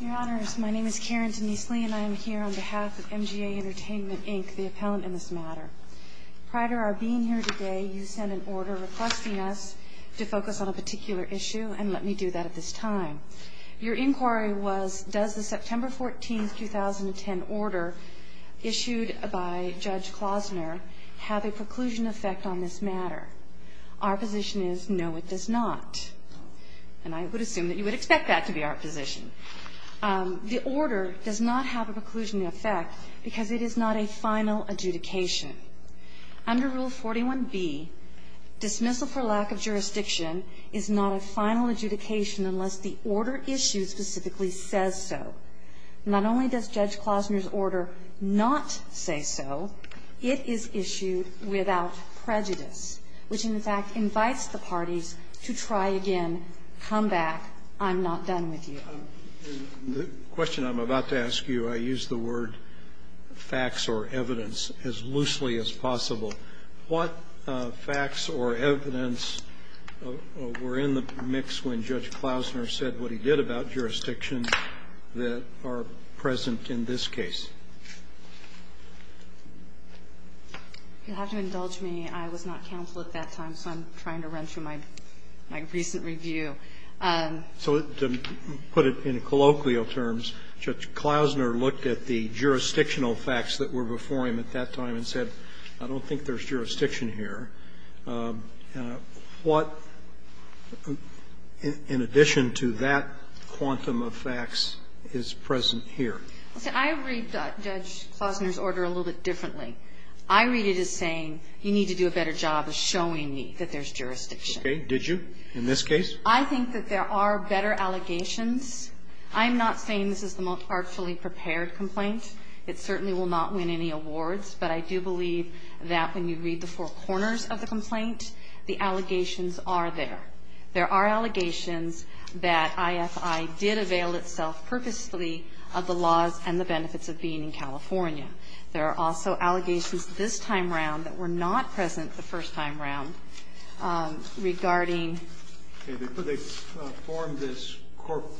Your Honors, my name is Karen Denise Lee, and I am here on behalf of MGA Entertainment, Inc., the appellant in this matter. Prior to our being here today, you sent an order requesting us to focus on a particular issue, and let me do that at this time. Your inquiry was, does the September 14, 2010 order issued by Judge Klausner have a preclusion effect on this matter? Our position is, no, it does not. And I would assume that you would expect that to be our position. The order does not have a preclusion effect because it is not a final adjudication. Under Rule 41B, dismissal for lack of jurisdiction is not a final adjudication unless the order issued specifically says so. Not only does Judge Klausner's order not say so, it is issued without prejudice, which, in fact, invites the parties to try again, come back, I'm not done with you. The question I'm about to ask you, I use the word facts or evidence as loosely as possible. What facts or evidence were in the mix when Judge Klausner said what he did about jurisdictions that are present in this case? You'll have to indulge me. I was not counsel at that time, so I'm trying to run through my recent review. So to put it in colloquial terms, Judge Klausner looked at the jurisdictional facts that were before him at that time and said, I don't think there's jurisdiction here. What, in addition to that quantum of facts, is present here? I read Judge Klausner's order a little bit differently. I read it as saying, you need to do a better job of showing me that there's jurisdiction. Okay. Did you in this case? I think that there are better allegations. I'm not saying this is the most artfully prepared complaint. It certainly will not win any awards, but I do believe that when you read the four corners of the complaint, the allegations are there. There are allegations that IFI did avail itself purposely of the laws and the benefits of being in California. There are also allegations this time around that were not present the first time around regarding. Okay. They formed this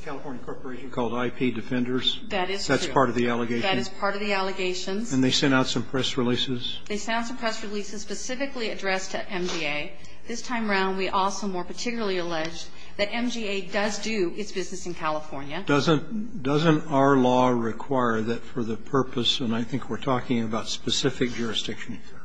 California corporation called IP Defenders. That is true. That's part of the allegation. That is part of the allegations. And they sent out some press releases. They sent out some press releases specifically addressed to MGA. This time around, we also more particularly alleged that MGA does do its business in California. Doesn't our law require that for the purpose, and I think we're talking about specific jurisdiction here,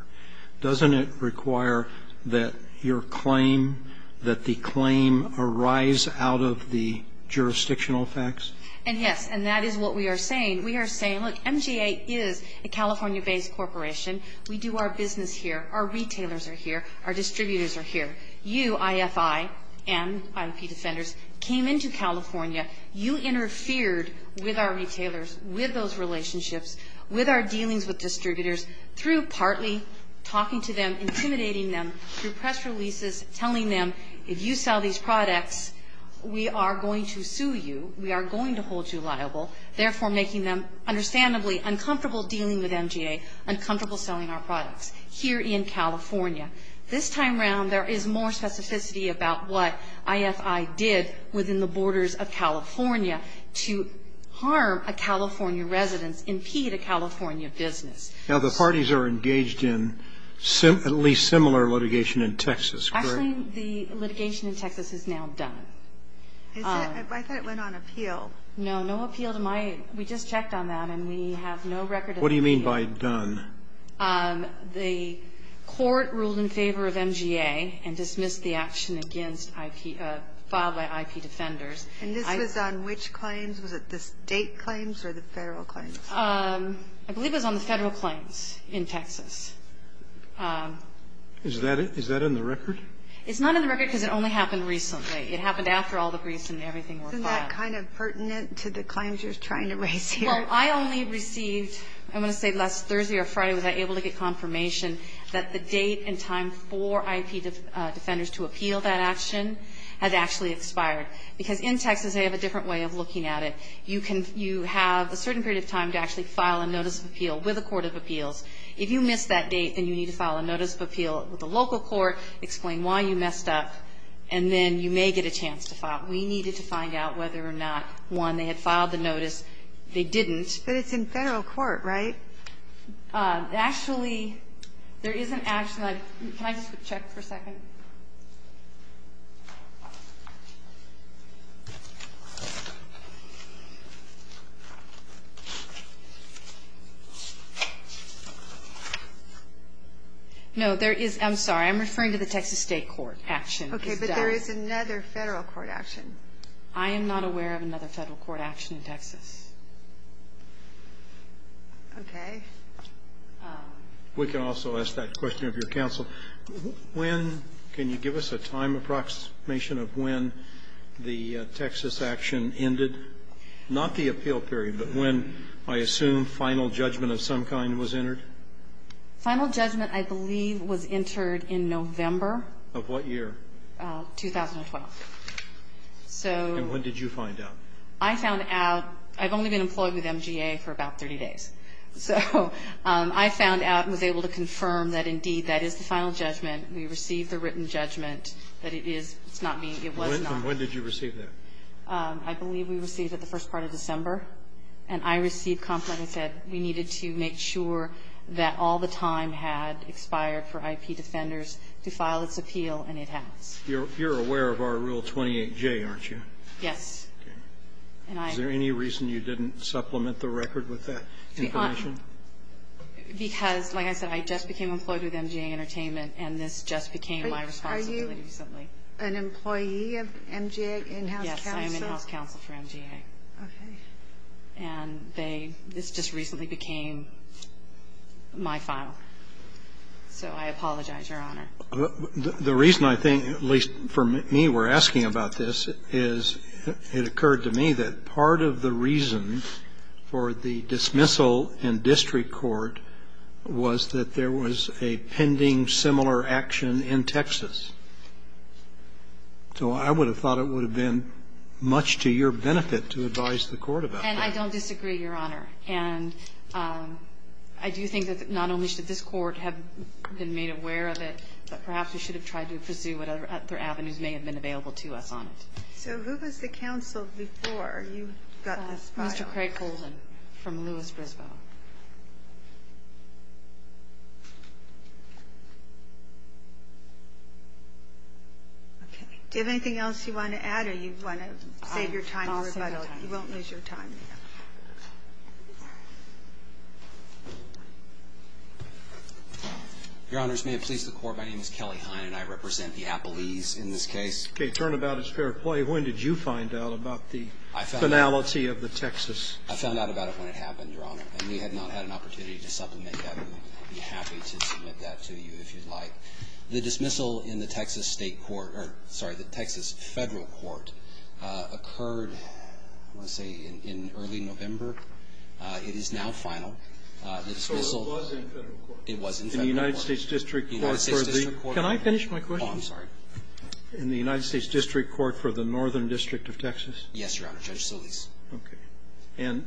doesn't it require that your claim, that the claim arise out of the jurisdictional facts? And yes. And that is what we are saying. We are saying, look, MGA is a California-based corporation. We do our business here. Our retailers are here. Our distributors are here. You, IFI and IP Defenders, came into California. You interfered with our retailers, with those relationships, with our dealings with distributors, through partly talking to them, intimidating them, through press releases, telling them, if you sell these products, we are going to sue you. We are going to hold you liable. Therefore, making them understandably uncomfortable dealing with MGA, uncomfortable selling our products here in California. This time around, there is more specificity about what IFI did within the borders of California to harm a California residence, impede a California business. Now, the parties are engaged in at least similar litigation in Texas, correct? Actually, the litigation in Texas is now done. I thought it went on appeal. No, no appeal to my we just checked on that, and we have no record of the case. What do you mean by done? The court ruled in favor of MGA and dismissed the action against IP, filed by IP Defenders. And this was on which claims? Was it the State claims or the Federal claims? I believe it was on the Federal claims in Texas. Is that in the record? It's not in the record because it only happened recently. It happened after all the briefs and everything were filed. Isn't that kind of pertinent to the claims you're trying to raise here? Well, I only received, I want to say last Thursday or Friday, was I able to get confirmation that the date and time for IP Defenders to appeal that action has actually expired. Because in Texas they have a different way of looking at it. You can, you have a certain period of time to actually file a notice of appeal with a court of appeals. If you miss that date, then you need to file a notice of appeal with a local court, explain why you messed up, and then you may get a chance to file. We needed to find out whether or not, one, they had filed the notice, they didn't. But it's in Federal court, right? Actually, there is an action. Can I just check for a second? No, there is, I'm sorry. I'm referring to the Texas State Court action. Okay. But there is another Federal court action. I am not aware of another Federal court action in Texas. Okay. We can also ask that question of your counsel. When, can you give us a time approximation of when the Texas action ended? Not the appeal period, but when, I assume, final judgment of some kind was entered? Final judgment, I believe, was entered in November. Of what year? 2012. So. And what did you find out? I found out, I've only been employed with MGA for about 30 days. So I found out and was able to confirm that, indeed, that is the final judgment. We received the written judgment that it is. It's not me. It was not me. And when did you receive that? I believe we received it the first part of December. And I received complaint that said we needed to make sure that all the time had expired for IP defenders to file its appeal, and it has. You're aware of our Rule 28J, aren't you? Yes. Okay. Is there any reason you didn't supplement the record with that? Because, like I said, I just became employed with MGA Entertainment, and this just became my responsibility recently. Are you an employee of MGA in-house counsel? Yes, I am in-house counsel for MGA. Okay. And this just recently became my file. So I apologize, Your Honor. The reason I think, at least for me, we're asking about this is it occurred to me that part of the reason for the dismissal in district court was that there was a pending similar action in Texas. So I would have thought it would have been much to your benefit to advise the Court about that. And I don't disagree, Your Honor. And I do think that not only should this Court have been made aware of it, but perhaps we should have tried to pursue what other avenues may have been available to us on it. So who was the counsel before you got this file? Mr. Craig-Colvin from Lewis-Brisbois. Okay. Do you have anything else you want to add, or you want to save your time in the rebuttal? I'll save my time. You won't lose your time there. Your Honors, may it please the Court, my name is Kelly Heine, and I represent the Appalese in this case. Turnabout is fair play. When did you find out about the finality of the Texas? I found out about it when it happened, Your Honor. And we have not had an opportunity to supplement that. I would be happy to submit that to you if you'd like. The dismissal in the Texas State court or, sorry, the Texas Federal court occurred, I want to say, in early November. It is now final. The dismissal was in Federal court. It was in Federal court. In the United States district court for the United States district court. Can I finish my question? Oh, I'm sorry. In the United States district court for the Northern district of Texas? Yes, Your Honor. Judge Solis. Okay. And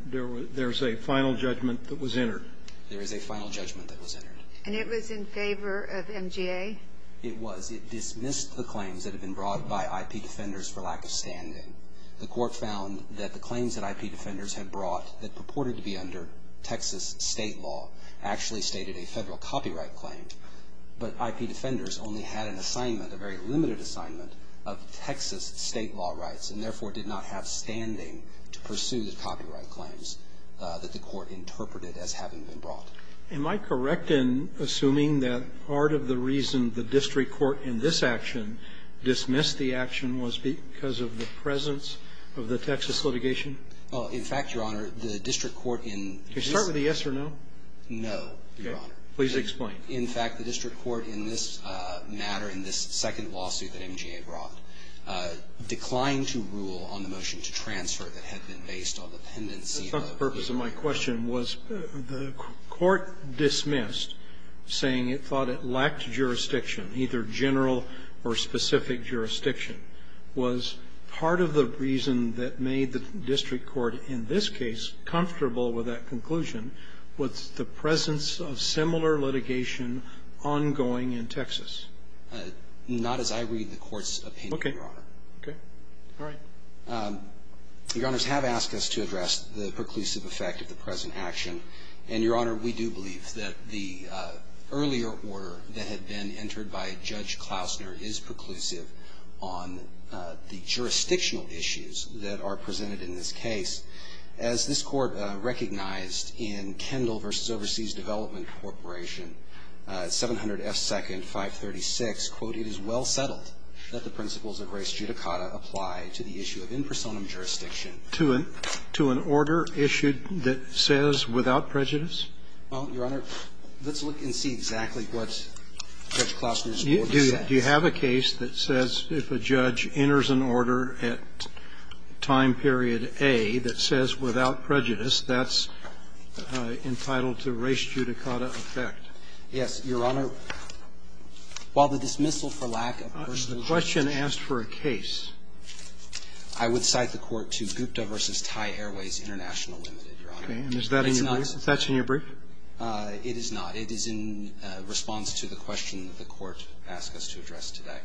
there's a final judgment that was entered? There is a final judgment that was entered. And it was in favor of MGA? It was. It dismissed the claims that had been brought by IP defenders for lack of standing. The Court found that the claims that IP defenders had brought that purported to be under Texas State law actually stated a Federal copyright claim. But IP defenders only had an assignment, a very limited assignment, of Texas State law rights and, therefore, did not have standing to pursue the copyright claims that the Court interpreted as having been brought. Am I correct in assuming that part of the reason the district court in this action dismissed the action was because of the presence of the Texas litigation? In fact, Your Honor, the district court in this case. Can you start with a yes or no? No, Your Honor. Please explain. In fact, the district court in this matter, in this second lawsuit that MGA brought, declined to rule on the motion to transfer that had been based on the pendency of IP defenders. The purpose of my question was the court dismissed, saying it thought it lacked jurisdiction, either general or specific jurisdiction, was part of the reason that made the district court in this case comfortable with that conclusion was the presence of similar litigation ongoing in Texas. Not as I read the Court's opinion, Your Honor. Okay. All right. Your Honors, have asked us to address the preclusive effect of the present action. And, Your Honor, we do believe that the earlier order that had been entered by Judge Klausner is preclusive on the jurisdictional issues that are presented in this case. As this Court recognized in Kendall v. Overseas Development Corporation, 700 F. 2nd, 536, quote, It is well settled that the principles of res judicata apply to the issue of in personam jurisdiction. To an order issued that says without prejudice? Well, Your Honor, let's look and see exactly what Judge Klausner's order says. Do you have a case that says if a judge enters an order at time period A that says without prejudice, that's entitled to res judicata effect? Yes, Your Honor. While the dismissal for lack of personam jurisdiction. A question asked for a case. I would cite the court to Gupta v. Thai Airways International Limited, Your Honor. Okay. And is that in your brief? That's in your brief? It is not. It is in response to the question that the court asked us to address today.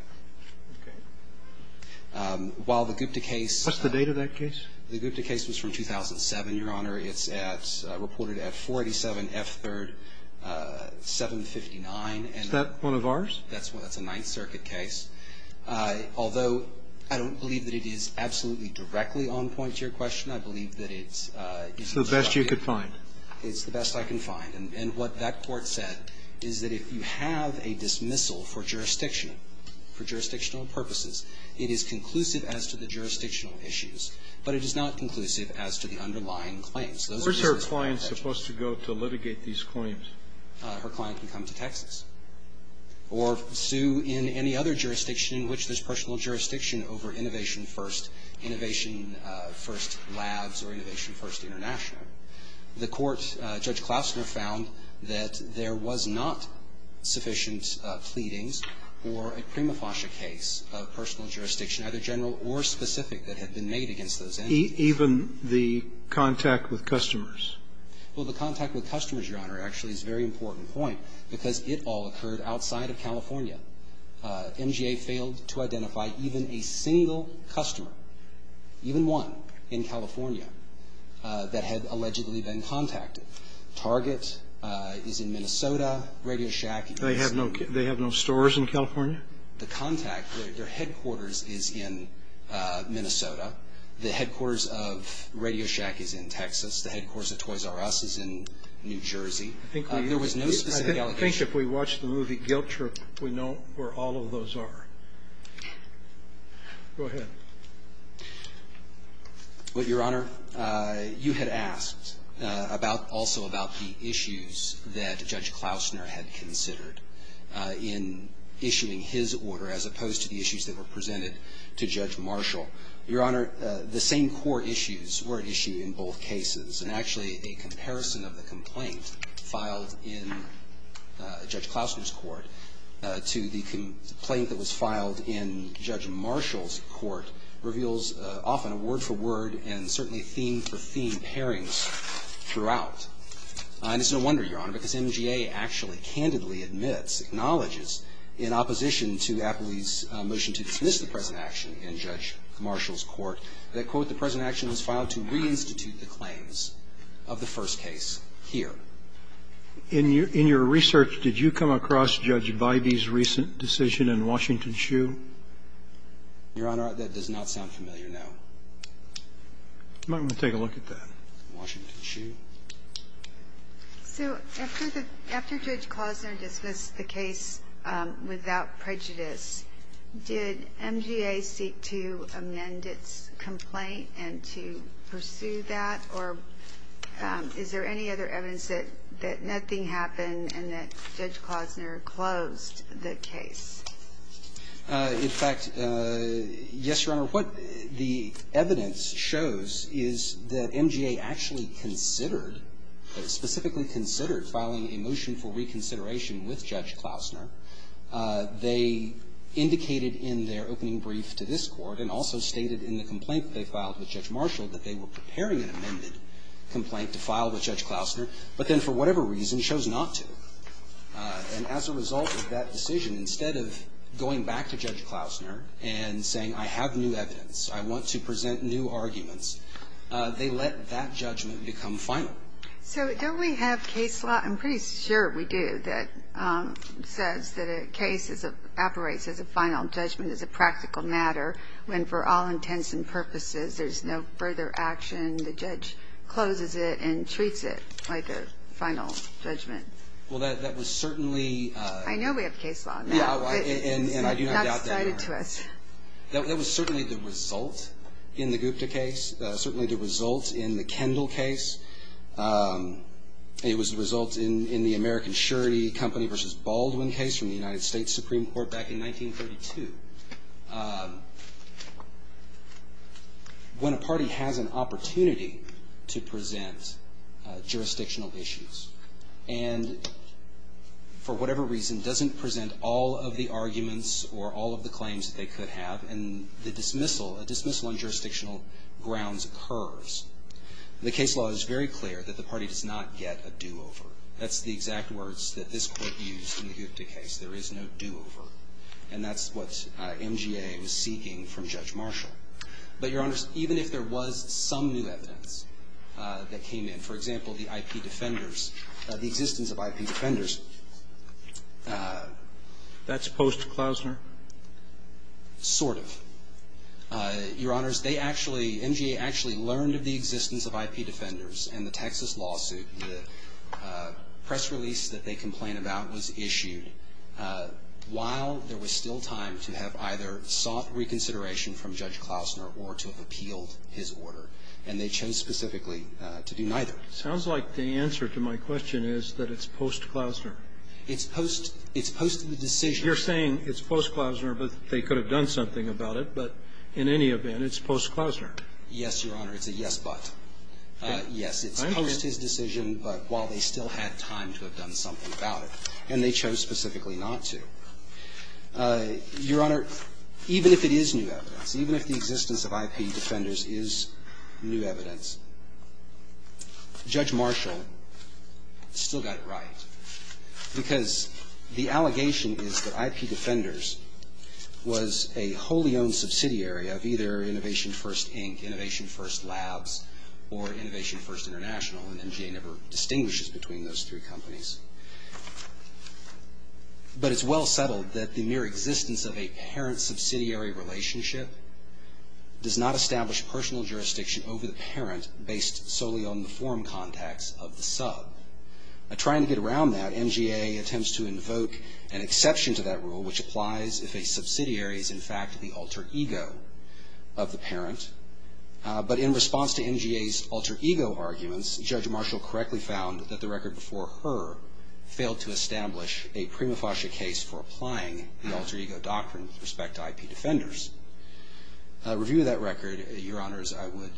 Okay. While the Gupta case. What's the date of that case? The Gupta case was from 2007, Your Honor. It's reported at 487 F. 3rd, 759. Is that one of ours? That's a Ninth Circuit case. Although I don't believe that it is absolutely directly on point to your question, I believe that it's. It's the best you could find. It's the best I can find. And what that court said is that if you have a dismissal for jurisdiction, for jurisdictional purposes, it is conclusive as to the jurisdictional issues, but it is not conclusive as to the underlying claims. Where's her client supposed to go to litigate these claims? Her client can come to Texas or sue in any other jurisdiction in which there's personal jurisdiction over Innovation First, Innovation First Labs or Innovation First International. The court, Judge Klausner, found that there was not sufficient pleadings for a prima facie case of personal jurisdiction, either general or specific, that had been made against those entities. Even the contact with customers? Well, the contact with customers, Your Honor, actually is a very important point, because it all occurred outside of California. MGA failed to identify even a single customer, even one, in California, that had allowed them to come to Texas. And that's where they've allegedly been contacted. Target is in Minnesota. Radio Shack is in Texas. They have no stores in California? The contact, their headquarters is in Minnesota. The headquarters of Radio Shack is in Texas. The headquarters of Toys R Us is in New Jersey. There was no specific allegation. I think if we watch the movie Guilt Trip, we know where all of those are. Go ahead. Well, Your Honor, you had asked about also about the issues that Judge Klausner had considered in issuing his order, as opposed to the issues that were presented to Judge Marshall. Your Honor, the same core issues were at issue in both cases. And actually, a comparison of the complaint filed in Judge Klausner's court to the complaint filed in Judge Marshall's court reveals often a word-for-word and certainly theme-for-theme pairings throughout. And it's no wonder, Your Honor, because MGA actually candidly admits, acknowledges in opposition to Apley's motion to dismiss the present action in Judge Marshall's court, that, quote, the present action was filed to reinstitute the claims of the first case here. In your research, did you come across Judge Bybee's recent decision in Washington Shoe? Your Honor, that does not sound familiar now. I'm going to take a look at that. Washington Shoe. So after Judge Klausner dismissed the case without prejudice, did MGA seek to amend its complaint and to pursue that? Or is there any other evidence that nothing happened and that Judge Klausner closed the case? In fact, yes, Your Honor. What the evidence shows is that MGA actually considered, specifically considered filing a motion for reconsideration with Judge Klausner. They indicated in their opening brief to this court and also stated in the complaint they filed with Judge Marshall that they were preparing an amended complaint to file with Judge Klausner, but then for whatever reason chose not to. And as a result of that decision, instead of going back to Judge Klausner and saying, I have new evidence, I want to present new arguments, they let that judgment become final. So don't we have case law? I'm pretty sure we do, that says that a case is a – operates as a final judgment, as a practical matter, when for all intents and purposes there's no further action. The judge closes it and treats it like a final judgment. Well, that was certainly – I know we have case law now. And I do not doubt that, Your Honor. It's not cited to us. That was certainly the result in the Gupta case, certainly the result in the Kendall case. It was the result in the American Surety Company v. Baldwin case from the United States in 1942, when a party has an opportunity to present jurisdictional issues and for whatever reason doesn't present all of the arguments or all of the claims that they could have, and the dismissal, a dismissal on jurisdictional grounds occurs, the case law is very clear that the party does not get a do-over. That's the exact words that this Court used in the Gupta case. There is no do-over. And that's what MGA was seeking from Judge Marshall. But, Your Honors, even if there was some new evidence that came in, for example, the IP defenders, the existence of IP defenders. That's post-Klausner? Sort of. Your Honors, they actually, MGA actually learned of the existence of IP defenders and the Texas lawsuit, the press release that they complain about was issued while there was still time to have either sought reconsideration from Judge Klausner or to have appealed his order, and they chose specifically to do neither. Sounds like the answer to my question is that it's post-Klausner. It's post the decision. You're saying it's post-Klausner, but they could have done something about it, but in any event, it's post-Klausner. Yes, Your Honor. It's a yes, but. Yes, it's post his decision, but while they still had time to have done something about it, and they chose specifically not to. Your Honor, even if it is new evidence, even if the existence of IP defenders is new evidence, Judge Marshall still got it right, because the allegation is that IP defenders was a wholly owned subsidiary of either Innovation First Inc., Innovation First Labs, or Innovation First International, and MGA never distinguishes between those three companies. But it's well settled that the mere existence of a parent-subsidiary relationship does not establish personal jurisdiction over the parent based solely on the form context of the sub. Trying to get around that, MGA attempts to invoke an exception to that rule, which applies if a subsidiary is in fact the alter ego of the parent. But in response to MGA's alter ego arguments, Judge Marshall correctly found that the record before her failed to establish a prima facie case for applying the alter ego doctrine with respect to IP defenders. A review of that record, Your Honors, I would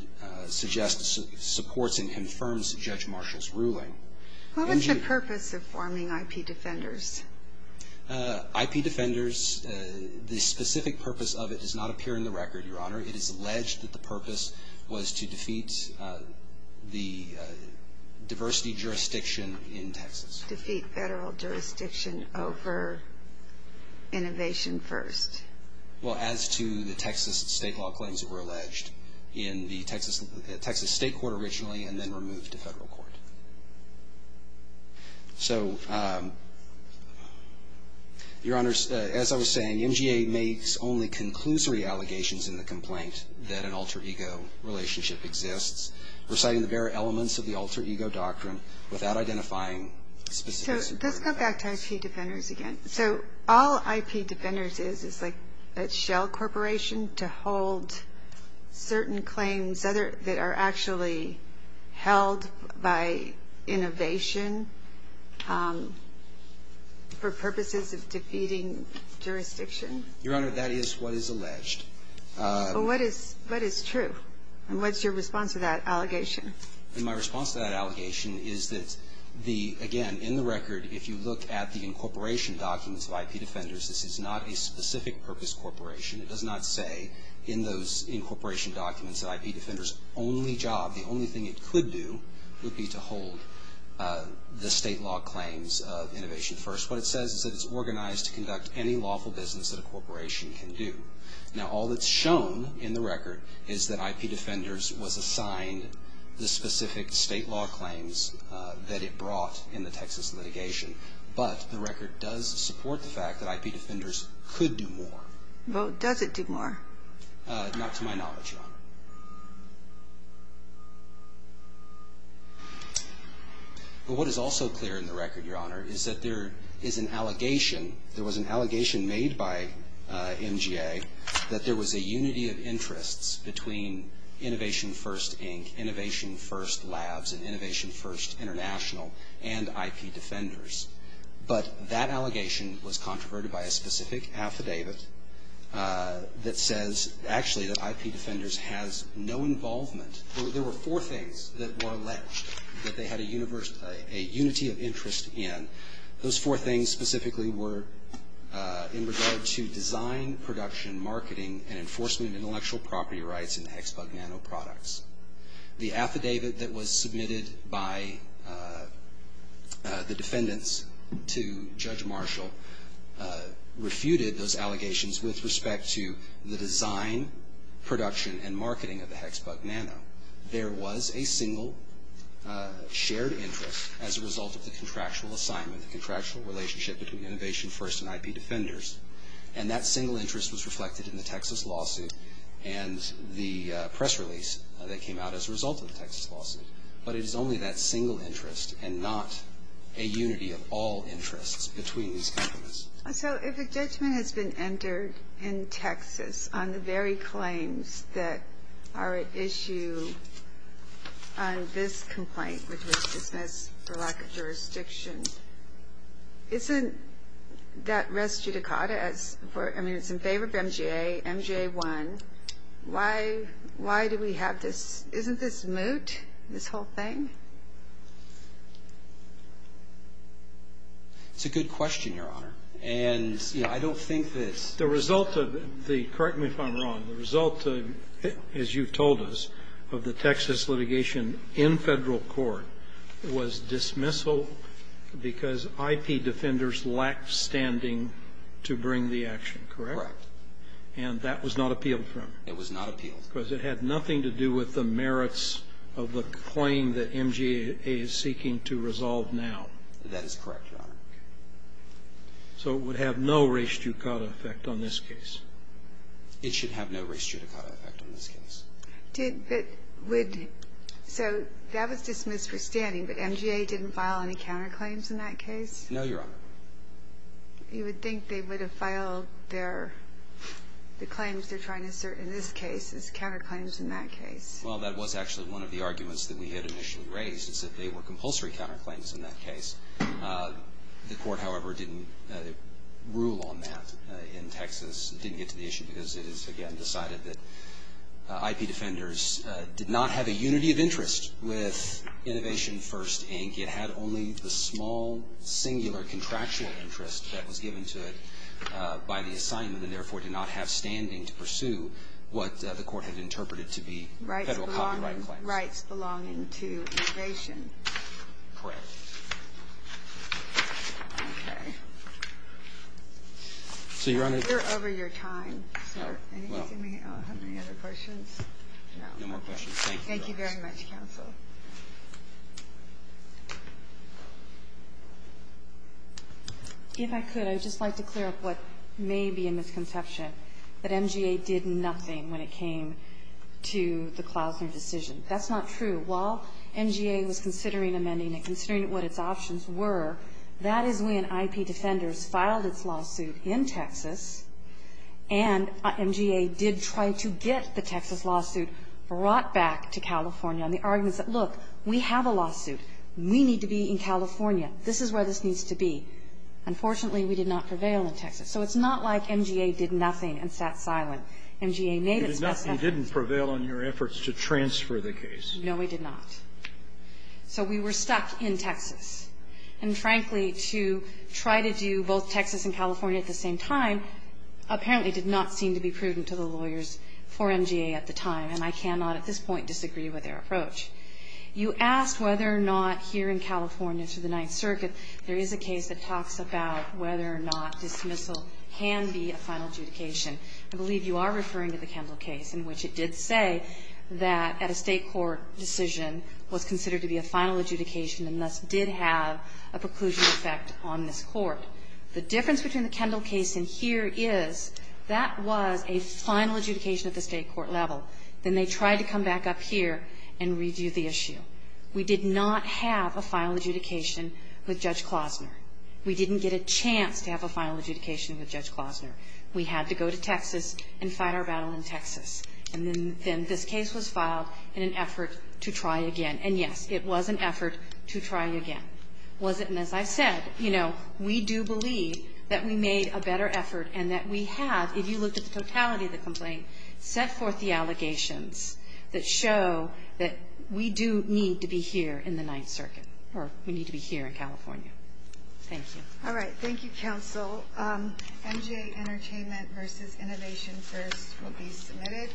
suggest supports and confirms Judge Marshall's ruling. What was the purpose of forming IP defenders? IP defenders, the specific purpose of it does not appear in the record, Your Honor. It is alleged that the purpose was to defeat the diversity jurisdiction in Texas. Defeat federal jurisdiction over Innovation First. Well, as to the Texas state law claims that were alleged in the Texas State Court originally and then removed to federal court. So, Your Honors, as I was saying, MGA makes only conclusory allegations in the complaint that an alter ego relationship exists, reciting the very elements of the alter ego doctrine without identifying specific superior facts. So let's go back to IP defenders again. So all IP defenders is is like a shell corporation to hold certain claims that are actually held by innovation for purposes of defeating jurisdiction? Your Honor, that is what is alleged. Well, what is true? And what's your response to that allegation? My response to that allegation is that the, again, in the record, if you look at the incorporation documents of IP defenders, this is not a specific purpose corporation. It does not say in those incorporation documents that IP defenders' only job, the only thing it could do would be to hold the state law claims of Innovation First. What it says is that it's organized to conduct any lawful business that a corporation can do. Now, all that's shown in the record is that IP defenders was assigned the specific state law claims that it brought in the Texas litigation. But the record does support the fact that IP defenders could do more. Well, does it do more? Not to my knowledge, Your Honor. But what is also clear in the record, Your Honor, is that there is an allegation – there was an allegation made by MGA that there was a unity of interests between Innovation First, Inc., Innovation First Labs, and Innovation First International, and IP defenders. But that allegation was controverted by a specific affidavit that says actually that IP defenders has no involvement. There were four things that were alleged that they had a unity of interest in. Those four things specifically were in regard to design, production, marketing, and enforcement of intellectual property rights in Hexbug Nanoproducts. The affidavit that was submitted by the defendants to Judge Marshall refuted those allegations with respect to the design, production, and marketing of the Hexbug Nano. There was a single shared interest as a result of the contractual assignment, the contractual relationship between Innovation First and IP defenders. And that single interest was reflected in the Texas lawsuit and the press release that came out as a result of the Texas lawsuit. But it is only that single interest and not a unity of all interests between these companies. So if a judgment has been entered in Texas on the very claims that are at issue on this complaint, which was dismissed for lack of jurisdiction, isn't that res judicata? I mean, it's in favor of MGA, MGA won. Why do we have this? Isn't this moot, this whole thing? It's a good question, Your Honor. And, you know, I don't think that it's the result of the correct me if I'm wrong. The result, as you've told us, of the Texas litigation in Federal court was dismissal because IP defenders lacked standing to bring the action, correct? Correct. And that was not appealed, Your Honor? It was not appealed. Because it had nothing to do with the merits of the claim that MGA is seeking to resolve now. That is correct, Your Honor. So it would have no res judicata effect on this case? It should have no res judicata effect on this case. But would so that was dismissed for standing, but MGA didn't file any counterclaims in that case? No, Your Honor. You would think they would have filed their, the claims they're trying to assert in this case as counterclaims in that case. Well, that was actually one of the arguments that we had initially raised, is that they were compulsory counterclaims in that case. The court, however, didn't rule on that in Texas, didn't get to the issue, because it is, again, decided that IP defenders did not have a unity of interest with Innovation First, Inc. It had only the small, singular, contractual interest that was given to it by the assignment, and therefore did not have standing to pursue what the court had interpreted to be federal copyright claims. Rights belonging to Innovation. Correct. Okay. So, Your Honor. We're over your time, sir. Do you have any other questions? No. No more questions. Thank you, Your Honor. Thank you very much, counsel. If I could, I would just like to clear up what may be a misconception, that MGA did nothing when it came to the Klausner decision. That's not true. While MGA was considering amending it, considering what its options were, that is when IP defenders filed its lawsuit in Texas, and MGA did try to get the Texas lawsuit brought back to California. And the argument is that, look, we have a lawsuit. We need to be in California. This is where this needs to be. Unfortunately, we did not prevail in Texas. So it's not like MGA did nothing and sat silent. MGA made its best efforts. You did nothing. You didn't prevail on your efforts to transfer the case. No, we did not. So we were stuck in Texas. And, frankly, to try to do both Texas and California at the same time, apparently did not seem to be prudent to the lawyers for MGA at the time. And I cannot at this point disagree with their approach. You asked whether or not here in California to the Ninth Circuit there is a case that talks about whether or not dismissal can be a final adjudication. I believe you are referring to the Kendall case in which it did say that at a State court decision was considered to be a final adjudication and thus did have a preclusion effect on this Court. The difference between the Kendall case and here is that was a final adjudication at the State court level. Then they tried to come back up here and redo the issue. We did not have a final adjudication with Judge Klosner. We didn't get a chance to have a final adjudication with Judge Klosner. We had to go to Texas and fight our battle in Texas. And then this case was filed in an effort to try again. And, yes, it was an effort to try again. And as I said, you know, we do believe that we made a better effort and that we have, if you look at the totality of the complaint, set forth the allegations that show that we do need to be here in the Ninth Circuit or we need to be here in California. Thank you. All right. Thank you, Counsel. MGA Entertainment v. Innovation First will be submitted.